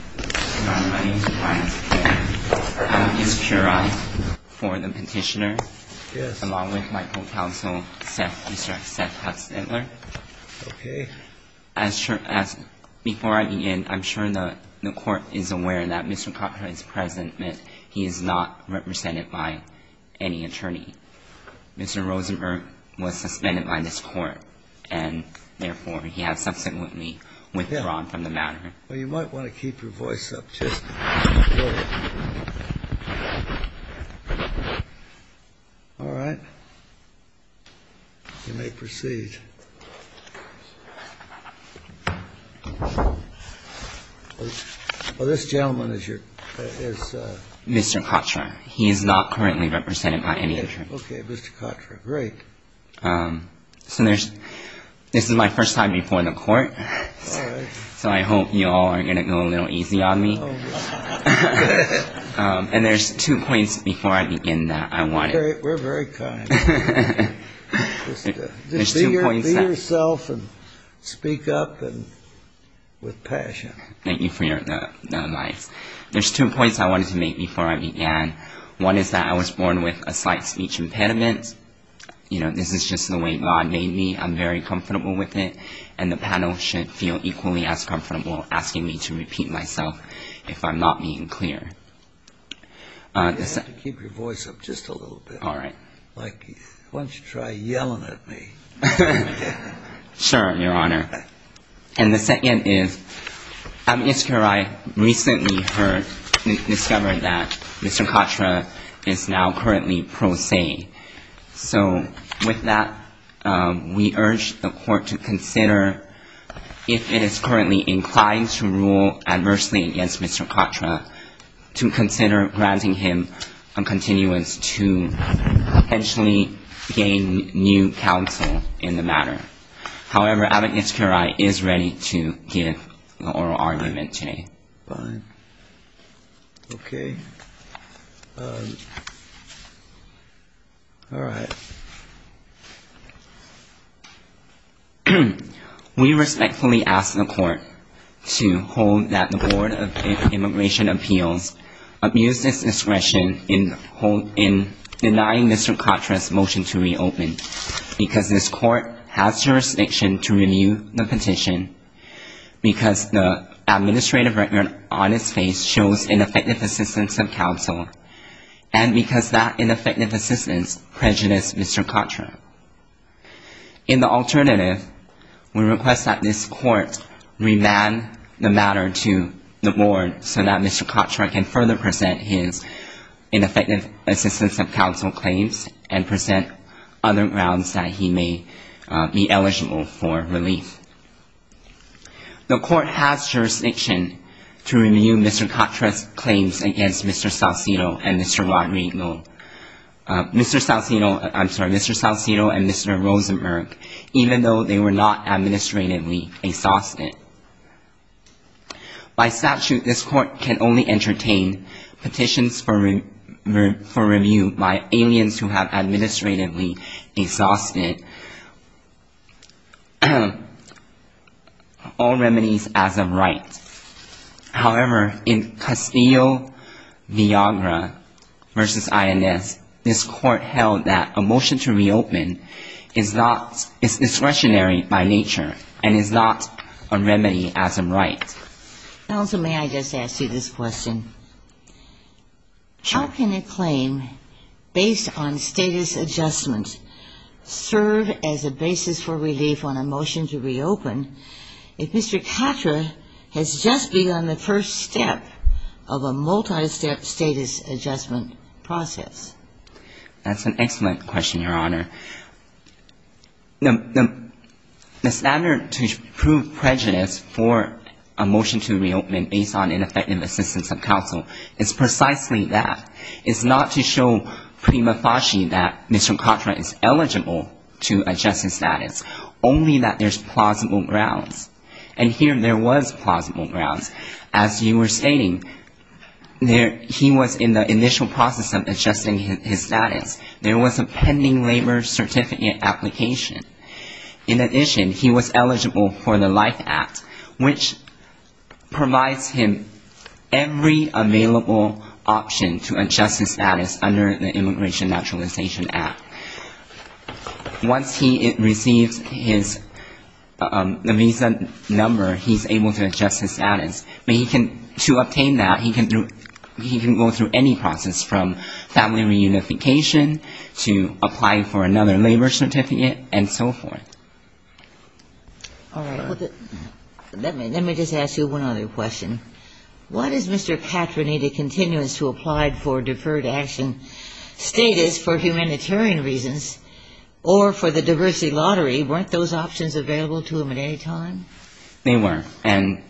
My name is Brian. I'm his juror. For the petitioner, along with my co-counsel, Mr. Seth Kattra. Okay. Before I begin, I'm sure the court is aware that Mr. Kattra is present, but he is not represented by any attorney. Mr. Rosenberg was suspended by this court, and therefore he has subsequently withdrawn from the matter. Well, you might want to keep your voice up just a little bit. All right. You may proceed. Well, this gentleman is your... Mr. Kattra. He is not currently represented by any attorney. Okay, Mr. Kattra. Great. So there's... This is my first time before the court. All right. So I hope you all are going to go a little easy on me. And there's two points before I begin that I wanted... We're very kind. Just be yourself and speak up with passion. Thank you for your advice. There's two points I wanted to make before I began. One is that I was born with a slight speech impediment. You know, this is just the way God made me. I'm very comfortable with it, and the panel should feel equally as comfortable asking me to repeat myself if I'm not being clear. You have to keep your voice up just a little bit. All right. Why don't you try yelling at me? Sure, Your Honor. And the second is, I recently heard, discovered that Mr. Kattra is now currently pro se. So with that, we urge the court to consider, if it is currently inclined to rule adversely against Mr. Kattra, to consider granting him a continuance to potentially gain new counsel in the matter. However, Abbot Nitzkirai is ready to give an oral argument today. Fine. Okay. All right. We respectfully ask the court to hold that the Board of Immigration Appeals abused its discretion in denying Mr. Kattra's motion to reopen because this court has jurisdiction to review the petition, because the administrative record on its face shows ineffective assistance of counsel, and because that ineffective assistance prejudiced Mr. Kattra. In the alternative, we request that this court remand the matter to the Board so that Mr. Kattra can further present his ineffective assistance of counsel claims and present other grounds that he may be eligible for relief. The court has jurisdiction to review Mr. Kattra's claims against Mr. Saucedo and Mr. Rosenberg, even though they were not administratively exhausted. By statute, this court can only entertain petitions for review by aliens who have administratively exhausted all remedies as of right. However, in Castillo-Villagra v. INS, this court held that a motion to reopen is discretionary by nature and is not a remedy as of right. Counsel, may I just ask you this question? How can a claim based on status adjustment serve as a basis for relief on a motion to reopen if Mr. Kattra has just begun the first step of a multistep status adjustment process? That's an excellent question, Your Honor. The standard to prove prejudice for a motion to reopen based on ineffective assistance of counsel is precisely that. It's not to show prima facie that Mr. Kattra is eligible to adjust his status, only that there's plausible grounds. And here there was plausible grounds. As you were stating, he was in the initial process of adjusting his status. There was a pending labor certificate application. In addition, he was eligible for the Life Act, which provides him every available option to adjust his status under the Immigration Naturalization Act. Once he receives his visa number, he's able to adjust his status. To obtain that, he can go through any process from family reunification to applying for another labor certificate and so forth. All right. Let me just ask you one other question. What is Mr. Kattra needed continuous to apply for deferred action status for humanitarian reasons or for the diversity lottery? Weren't those options available to him at any time? They were. And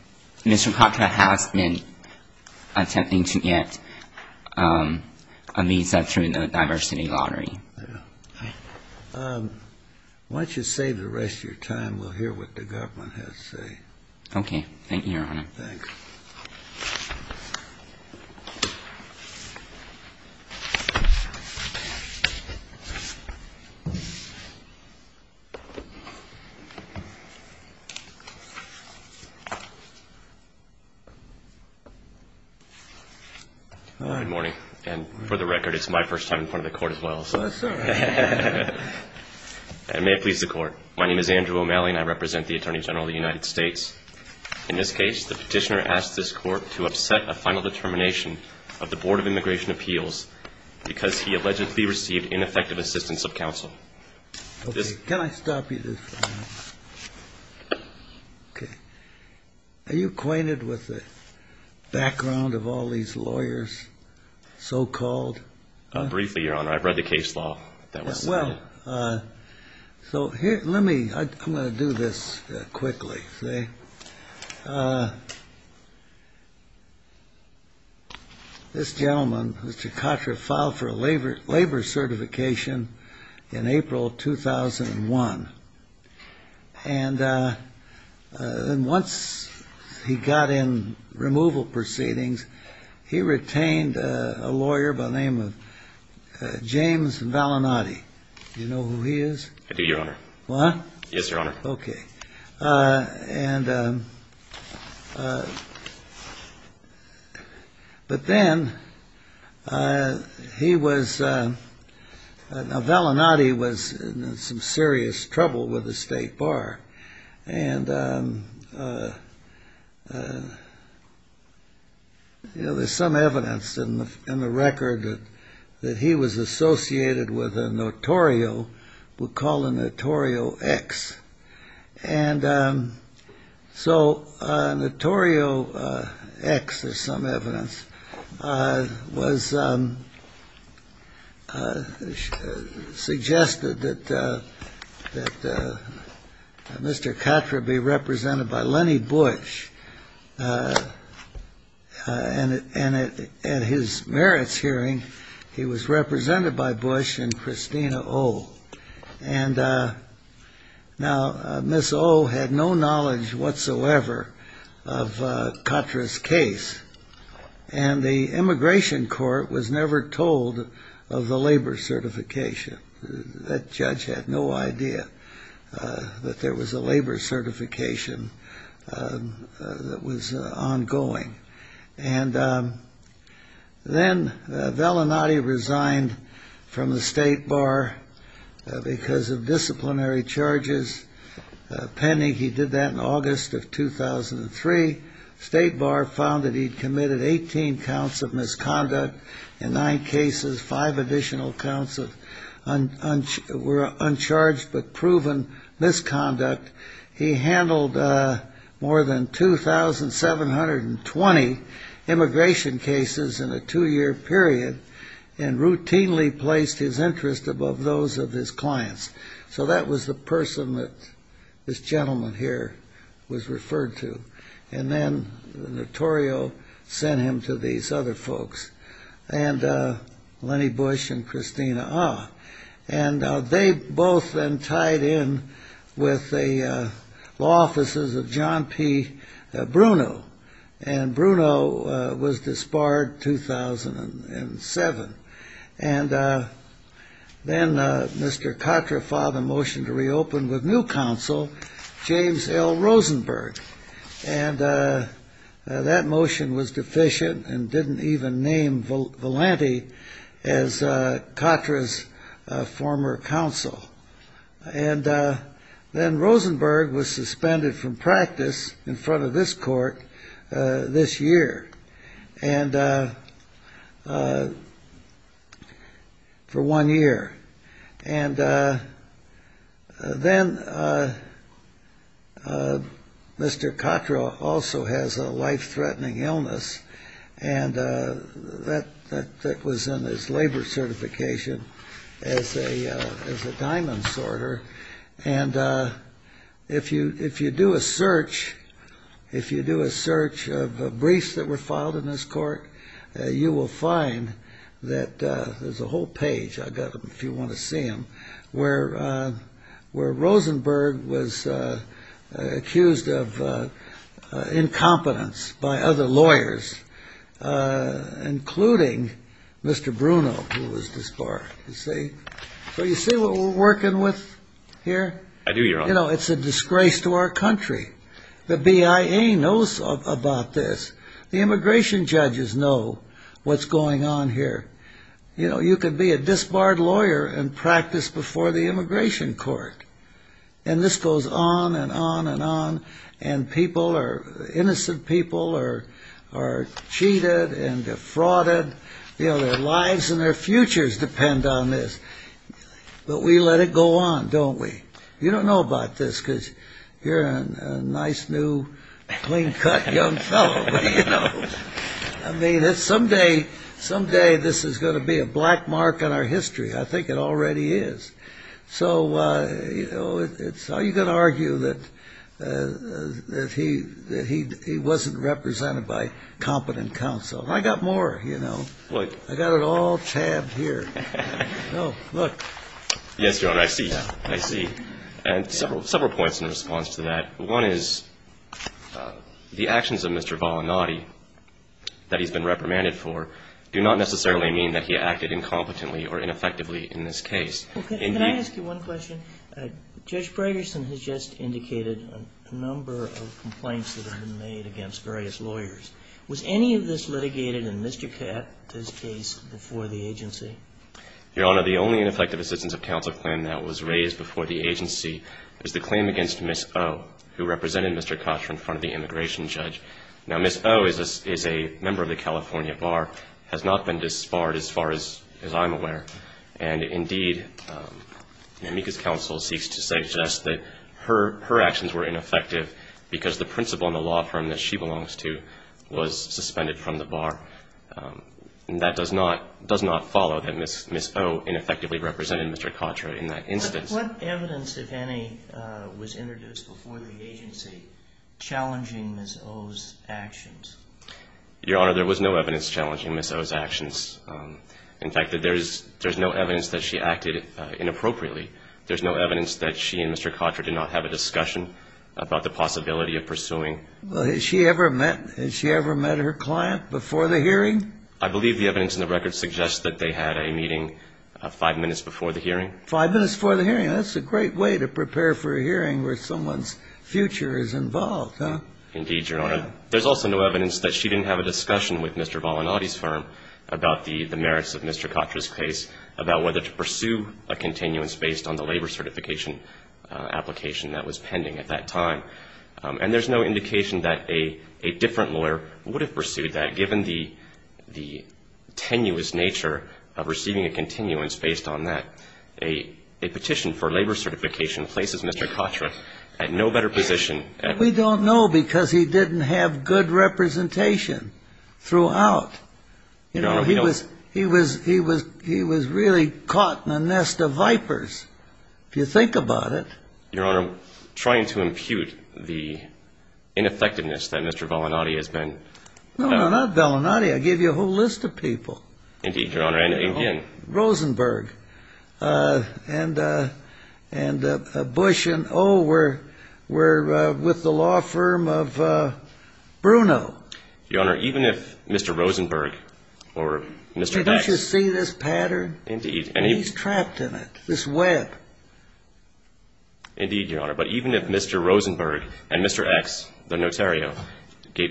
Mr. Kattra has been attempting to get a visa through the diversity lottery. Yeah. Why don't you save the rest of your time? We'll hear what the government has to say. Okay. Thank you, Your Honor. Thanks. All right. Good morning. And for the record, it's my first time in front of the Court as well. Oh, that's all right. May it please the Court. My name is Andrew O'Malley, and I represent the Attorney General of the United States. In this case, the petitioner asked this Court to upset a final determination of the Board of Immigration Appeals because he allegedly received ineffective assistance of counsel. Okay. Can I stop you this time? Okay. Are you acquainted with the background of all these lawyers, so-called? Briefly, Your Honor. I've read the case law. Well, so let me – I'm going to do this quickly. This gentleman, Mr. Katra, filed for a labor certification in April of 2001, and once he got in removal proceedings, he retained a lawyer by the name of James Valinati. Do you know who he is? I do, Your Honor. What? Yes, Your Honor. Okay. And – but then he was – now, Valinati was in some serious trouble with the State Bar. And, you know, there's some evidence in the record that he was associated with a notorio, we'll call a notorio X. And so notorio X, there's some evidence, was – suggested that Mr. Katra be represented by Lenny Bush. And at his merits hearing, he was represented by Bush and Christina O. And now, Miss O. had no knowledge whatsoever of Katra's case, and the Immigration Court was never told of the labor certification. That judge had no idea that there was a labor certification that was ongoing. And then Valinati resigned from the State Bar because of disciplinary charges pending. He did that in August of 2003. State Bar found that he'd committed 18 counts of misconduct in nine cases, five additional counts of – were uncharged but proven misconduct. He handled more than 2,720 immigration cases in a two-year period and routinely placed his interest above those of his clients. So that was the person that this gentleman here was referred to. And then the notorio sent him to these other folks, Lenny Bush and Christina O. And they both then tied in with the law offices of John P. Bruno, and Bruno was disbarred 2007. And then Mr. Katra filed a motion to reopen with new counsel, James L. Rosenberg. And that motion was deficient and didn't even name Valinati as Katra's former counsel. And then Rosenberg was suspended from practice in front of this court this year and – for one year. And then Mr. Katra also has a life-threatening illness, and that was in his labor certification as a diamond sorter. And if you do a search, if you do a search of briefs that were filed in this court, you will find that there's a whole page – I've got them if you want to see them – where Rosenberg was accused of incompetence by other lawyers, including Mr. Bruno, who was disbarred. So you see what we're working with here? I do, Your Honor. You know, it's a disgrace to our country. The BIA knows about this. The immigration judges know what's going on here. You know, you could be a disbarred lawyer and practice before the immigration court. And this goes on and on and on, and people are – innocent people are cheated and defrauded. You know, their lives and their futures depend on this. But we let it go on, don't we? You don't know about this because you're a nice, new, clean-cut young fellow, but, you know. I mean, someday this is going to be a black mark on our history. I think it already is. So, you know, how are you going to argue that he wasn't represented by competent counsel? I got more, you know. Look. I got it all tabbed here. No, look. Yes, Your Honor, I see. I see. And several points in response to that. One is the actions of Mr. Volanati that he's been reprimanded for do not necessarily mean that he acted incompetently or ineffectively in this case. Can I ask you one question? Judge Braggerson has just indicated a number of complaints that have been made against various lawyers. Was any of this litigated in Mr. Katz's case before the agency? Your Honor, the only ineffective assistance of counsel claim that was raised before the agency was the claim against Ms. O, who represented Mr. Katz in front of the immigration judge. Now, Ms. O is a member of the California Bar, has not been disbarred, as far as I'm aware. And, indeed, Mika's counsel seeks to suggest that her actions were ineffective because the principle in the law firm that she belongs to was suspended from the bar. And that does not follow that Ms. O ineffectively represented Mr. Katz in that instance. But what evidence, if any, was introduced before the agency challenging Ms. O's actions? Your Honor, there was no evidence challenging Ms. O's actions. In fact, there's no evidence that she acted inappropriately. There's no evidence that she and Mr. Kotter did not have a discussion about the possibility of pursuing. Has she ever met her client before the hearing? I believe the evidence in the record suggests that they had a meeting five minutes before the hearing. Five minutes before the hearing. That's a great way to prepare for a hearing where someone's future is involved, huh? Indeed, Your Honor. There's also no evidence that she didn't have a discussion with Mr. Volanotti's firm about the merits of Mr. Kotter's case, about whether to pursue a continuance based on the labor certification application that was pending at that time. And there's no indication that a different lawyer would have pursued that, given the tenuous nature of receiving a continuance based on that. A petition for labor certification places Mr. Kotter at no better position. We don't know because he didn't have good representation throughout. Your Honor, we don't... He was really caught in a nest of vipers, if you think about it. Your Honor, I'm trying to impute the ineffectiveness that Mr. Volanotti has been... No, no, not Volanotti. I gave you a whole list of people. Indeed, Your Honor, and again... ...with the law firm of Bruno. Your Honor, even if Mr. Rosenberg or Mr. X... Didn't you see this pattern? Indeed. And he's trapped in it, this web. Indeed, Your Honor. But even if Mr. Rosenberg and Mr. X, the notario,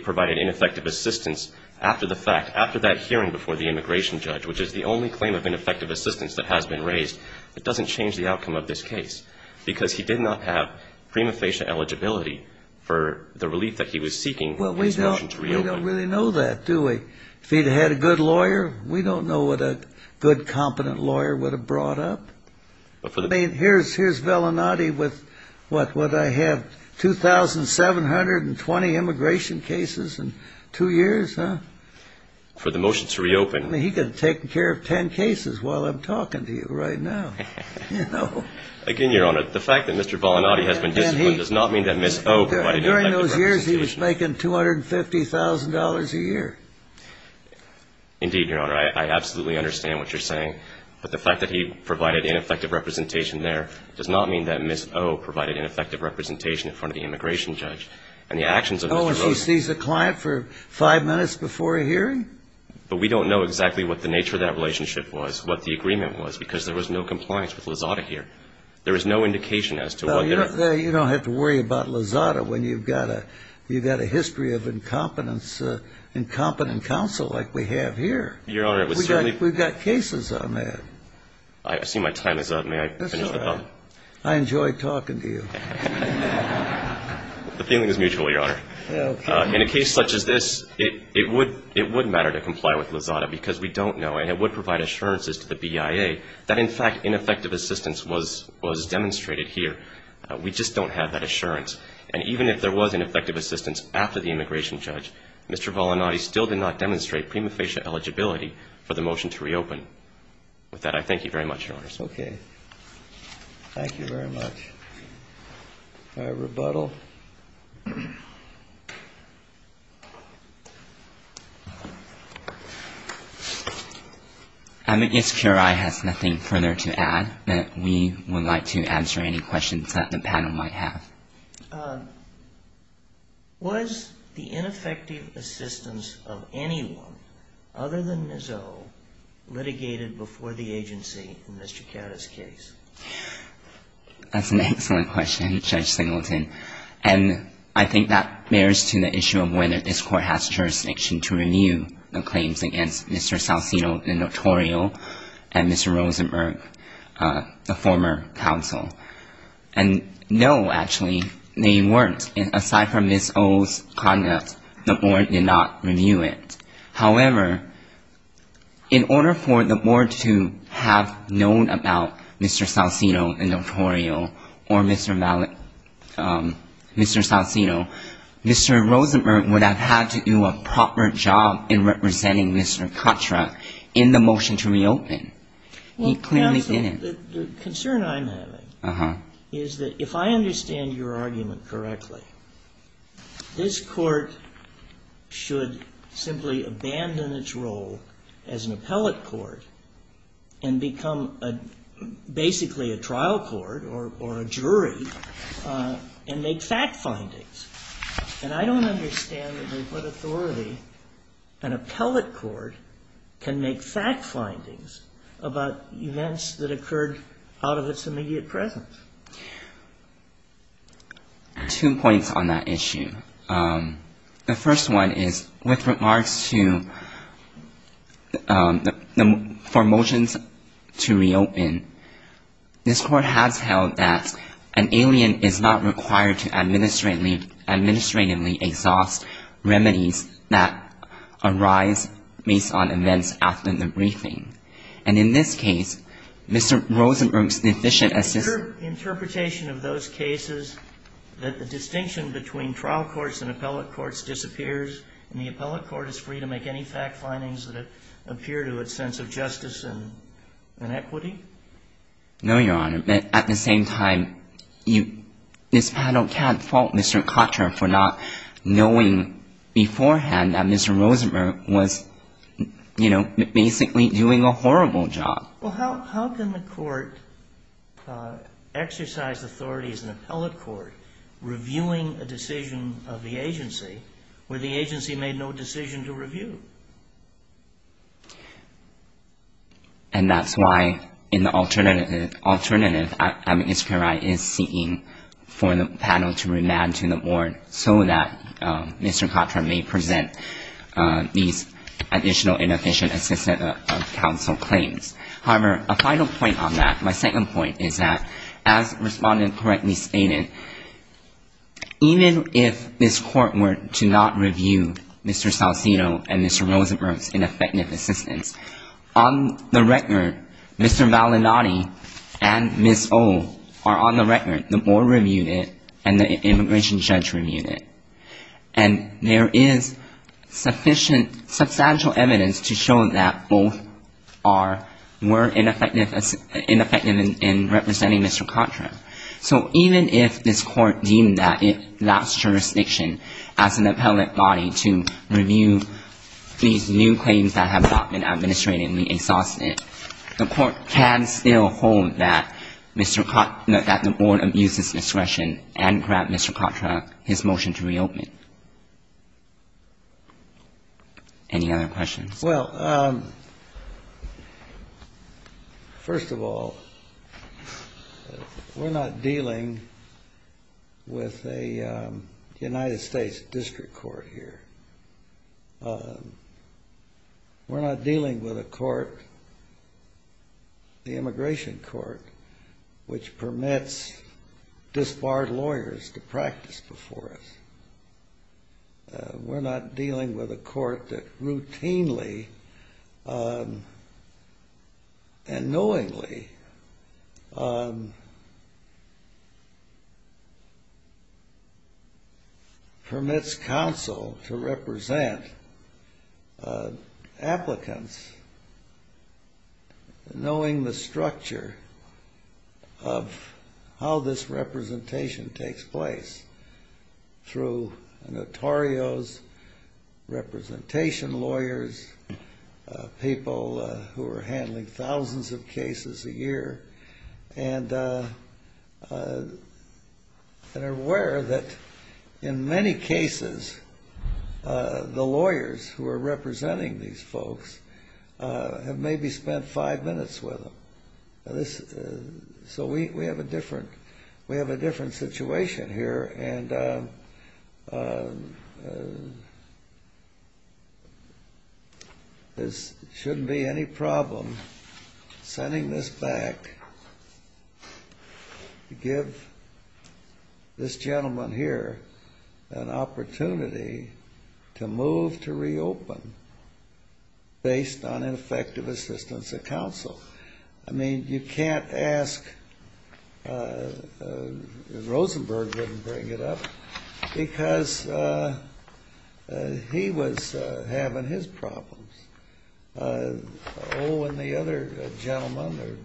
provided ineffective assistance after the fact, after that hearing before the immigration judge, which is the only claim of ineffective assistance that has been raised, it doesn't change the outcome of this case. Because he did not have prima facie eligibility for the relief that he was seeking for his motion to reopen. Well, we don't really know that, do we? If he'd had a good lawyer, we don't know what a good, competent lawyer would have brought up. I mean, here's Volanotti with what? Would I have 2,720 immigration cases in two years, huh? For the motion to reopen. I mean, he could have taken care of 10 cases while I'm talking to you right now. Again, Your Honor, the fact that Mr. Volanotti has been disciplined does not mean that Ms. O... During those years, he was making $250,000 a year. Indeed, Your Honor, I absolutely understand what you're saying. But the fact that he provided ineffective representation there does not mean that Ms. O provided ineffective representation in front of the immigration judge. But we don't know exactly what the nature of that relationship was, what the agreement was, because there was no compliance with Lozada here. There was no indication as to what their... Well, you don't have to worry about Lozada when you've got a history of incompetence in competent counsel like we have here. Your Honor, it was certainly... We've got cases on that. I see my time is up. May I finish the thought? That's all right. I enjoy talking to you. The feeling is mutual, Your Honor. In a case such as this, it would matter to comply with Lozada because we don't know, and it would provide assurances to the BIA that, in fact, ineffective assistance was demonstrated here. We just don't have that assurance. And even if there was ineffective assistance after the immigration judge, Mr. Volanotti still did not demonstrate prima facie eligibility for the motion to reopen. With that, I thank you very much, Your Honor. Okay. Thank you very much. If I rebuttal. I'm against QRI has nothing further to add, but we would like to answer any questions that the panel might have. Was the ineffective assistance of anyone other than Nizot litigated before the agency in Mr. Kata's case? That's an excellent question, Judge Singleton. And I think that bears to the issue of whether this court has jurisdiction to renew the claims against Mr. Salcino, the notorial, and Mr. Rosenberg, the former counsel. And no, actually, they weren't. Aside from Ms. O's conduct, the board did not renew it. However, in order for the board to have known about Mr. Salcino, the notorial, or Mr. Salcino, Mr. Rosenberg would have had to do a proper job in representing Mr. Katra in the motion to reopen. He clearly didn't. Counsel, the concern I'm having is that if I understand your argument correctly, this court should simply abandon its role as an appellate court and become basically a trial court or a jury and make fact findings. And I don't understand under what authority an appellate court can make fact findings about events that occurred out of its immediate presence. Two points on that issue. The first one is, with remarks for motions to reopen, this court has held that an alien is not required to administratively exhaust remedies that arise based on events after the briefing. And in this case, Mr. Rosenberg's deficient assistance in the trial court's role as an appellate court is not required. Is your interpretation of those cases that the distinction between trial courts and appellate courts disappears and the appellate court is free to make any fact findings that appear to its sense of justice and equity? No, Your Honor. At the same time, this panel can't fault Mr. Katra for not knowing beforehand that Mr. Rosenberg was basically doing a horrible job. Well, how can the court exercise authority as an appellate court reviewing a decision of the agency where the agency made no decision to review? And that's why in the alternative, Mr. Pierotti is seeking for the panel to remand to the board so that Mr. Katra may present these additional inefficient assistance of counsel claims. However, a final point on that, my second point is that, as the respondent correctly stated, even if this court were to not review Mr. Salcino and Mr. Rosenberg's ineffective assistance, on the record, Mr. Malinati and Ms. O are on the record, the board reviewed it and the immigration judge reviewed it. And there is sufficient substantial evidence to show that both are more ineffective in representing Mr. Katra. So even if this court deemed that it lacks jurisdiction as an appellate body to review these new claims that have not been administratively exhausted, the court can still hold that Mr. Katra – that the board abuses discretion and grant Mr. Katra his motion to reopen. Any other questions? Well, first of all, we're not dealing with a United States district court here. We're not dealing with a court, the immigration court, which permits disbarred lawyers to practice before us. We're not dealing with a court that routinely and knowingly permits counsel to represent applicants, knowing the structure of how this representation takes place through notarios, representation lawyers, people who are handling thousands of cases a year and are aware that in many cases the lawyers who are representing these folks have maybe spent five minutes with them. So we have a different situation here, and there shouldn't be any problem sending this back to give this gentleman here an opportunity to move to reopen based on ineffective assistance of counsel. I mean, you can't ask – Rosenberg wouldn't bring it up because he was having his problems. Oh, and the other gentlemen,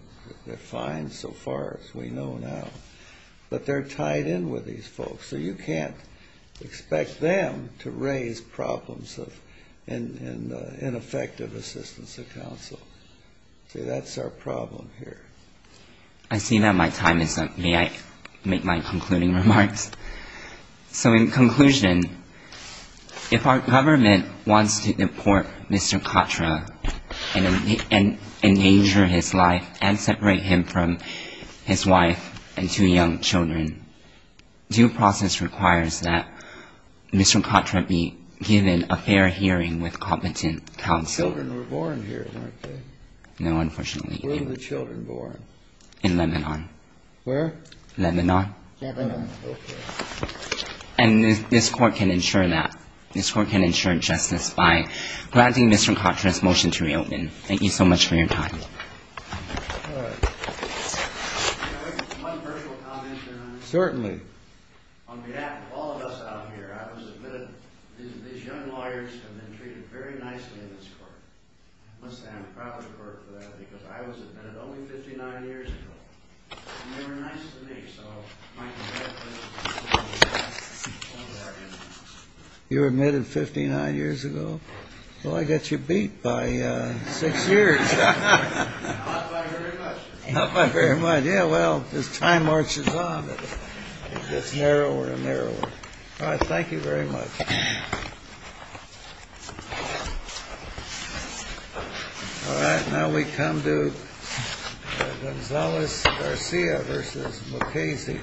they're fine so far as we know now. But they're tied in with these folks, so you can't expect them to raise problems of ineffective assistance of counsel. So that's our problem here. I see that my time is up. May I make my concluding remarks? So in conclusion, if our government wants to deport Mr. Katra and endanger his life and separate him from his wife and two young children, due process requires that Mr. Katra be given a fair hearing with competent counsel. The children were born here, weren't they? No, unfortunately. Where were the children born? In Lebanon. Where? Lebanon. Lebanon. Okay. And this Court can ensure that. This Court can ensure justice by granting Mr. Katra's motion to reopen. Thank you so much for your time. All right. Can I make one personal comment, Your Honor? Certainly. On behalf of all of us out here, I was admitted. These young lawyers have been treated very nicely in this Court. I must say I'm proud of the Court for that because I was admitted only 59 years ago, and they were nice to me. So my congratulations. You were admitted 59 years ago? Well, I got you beat by six years. Not by very much. Not by very much. Yeah, well, as time marches on, it gets narrower and narrower. All right. Thank you very much. All right. Now we come to Gonzalez-Garcia v. Mukasey.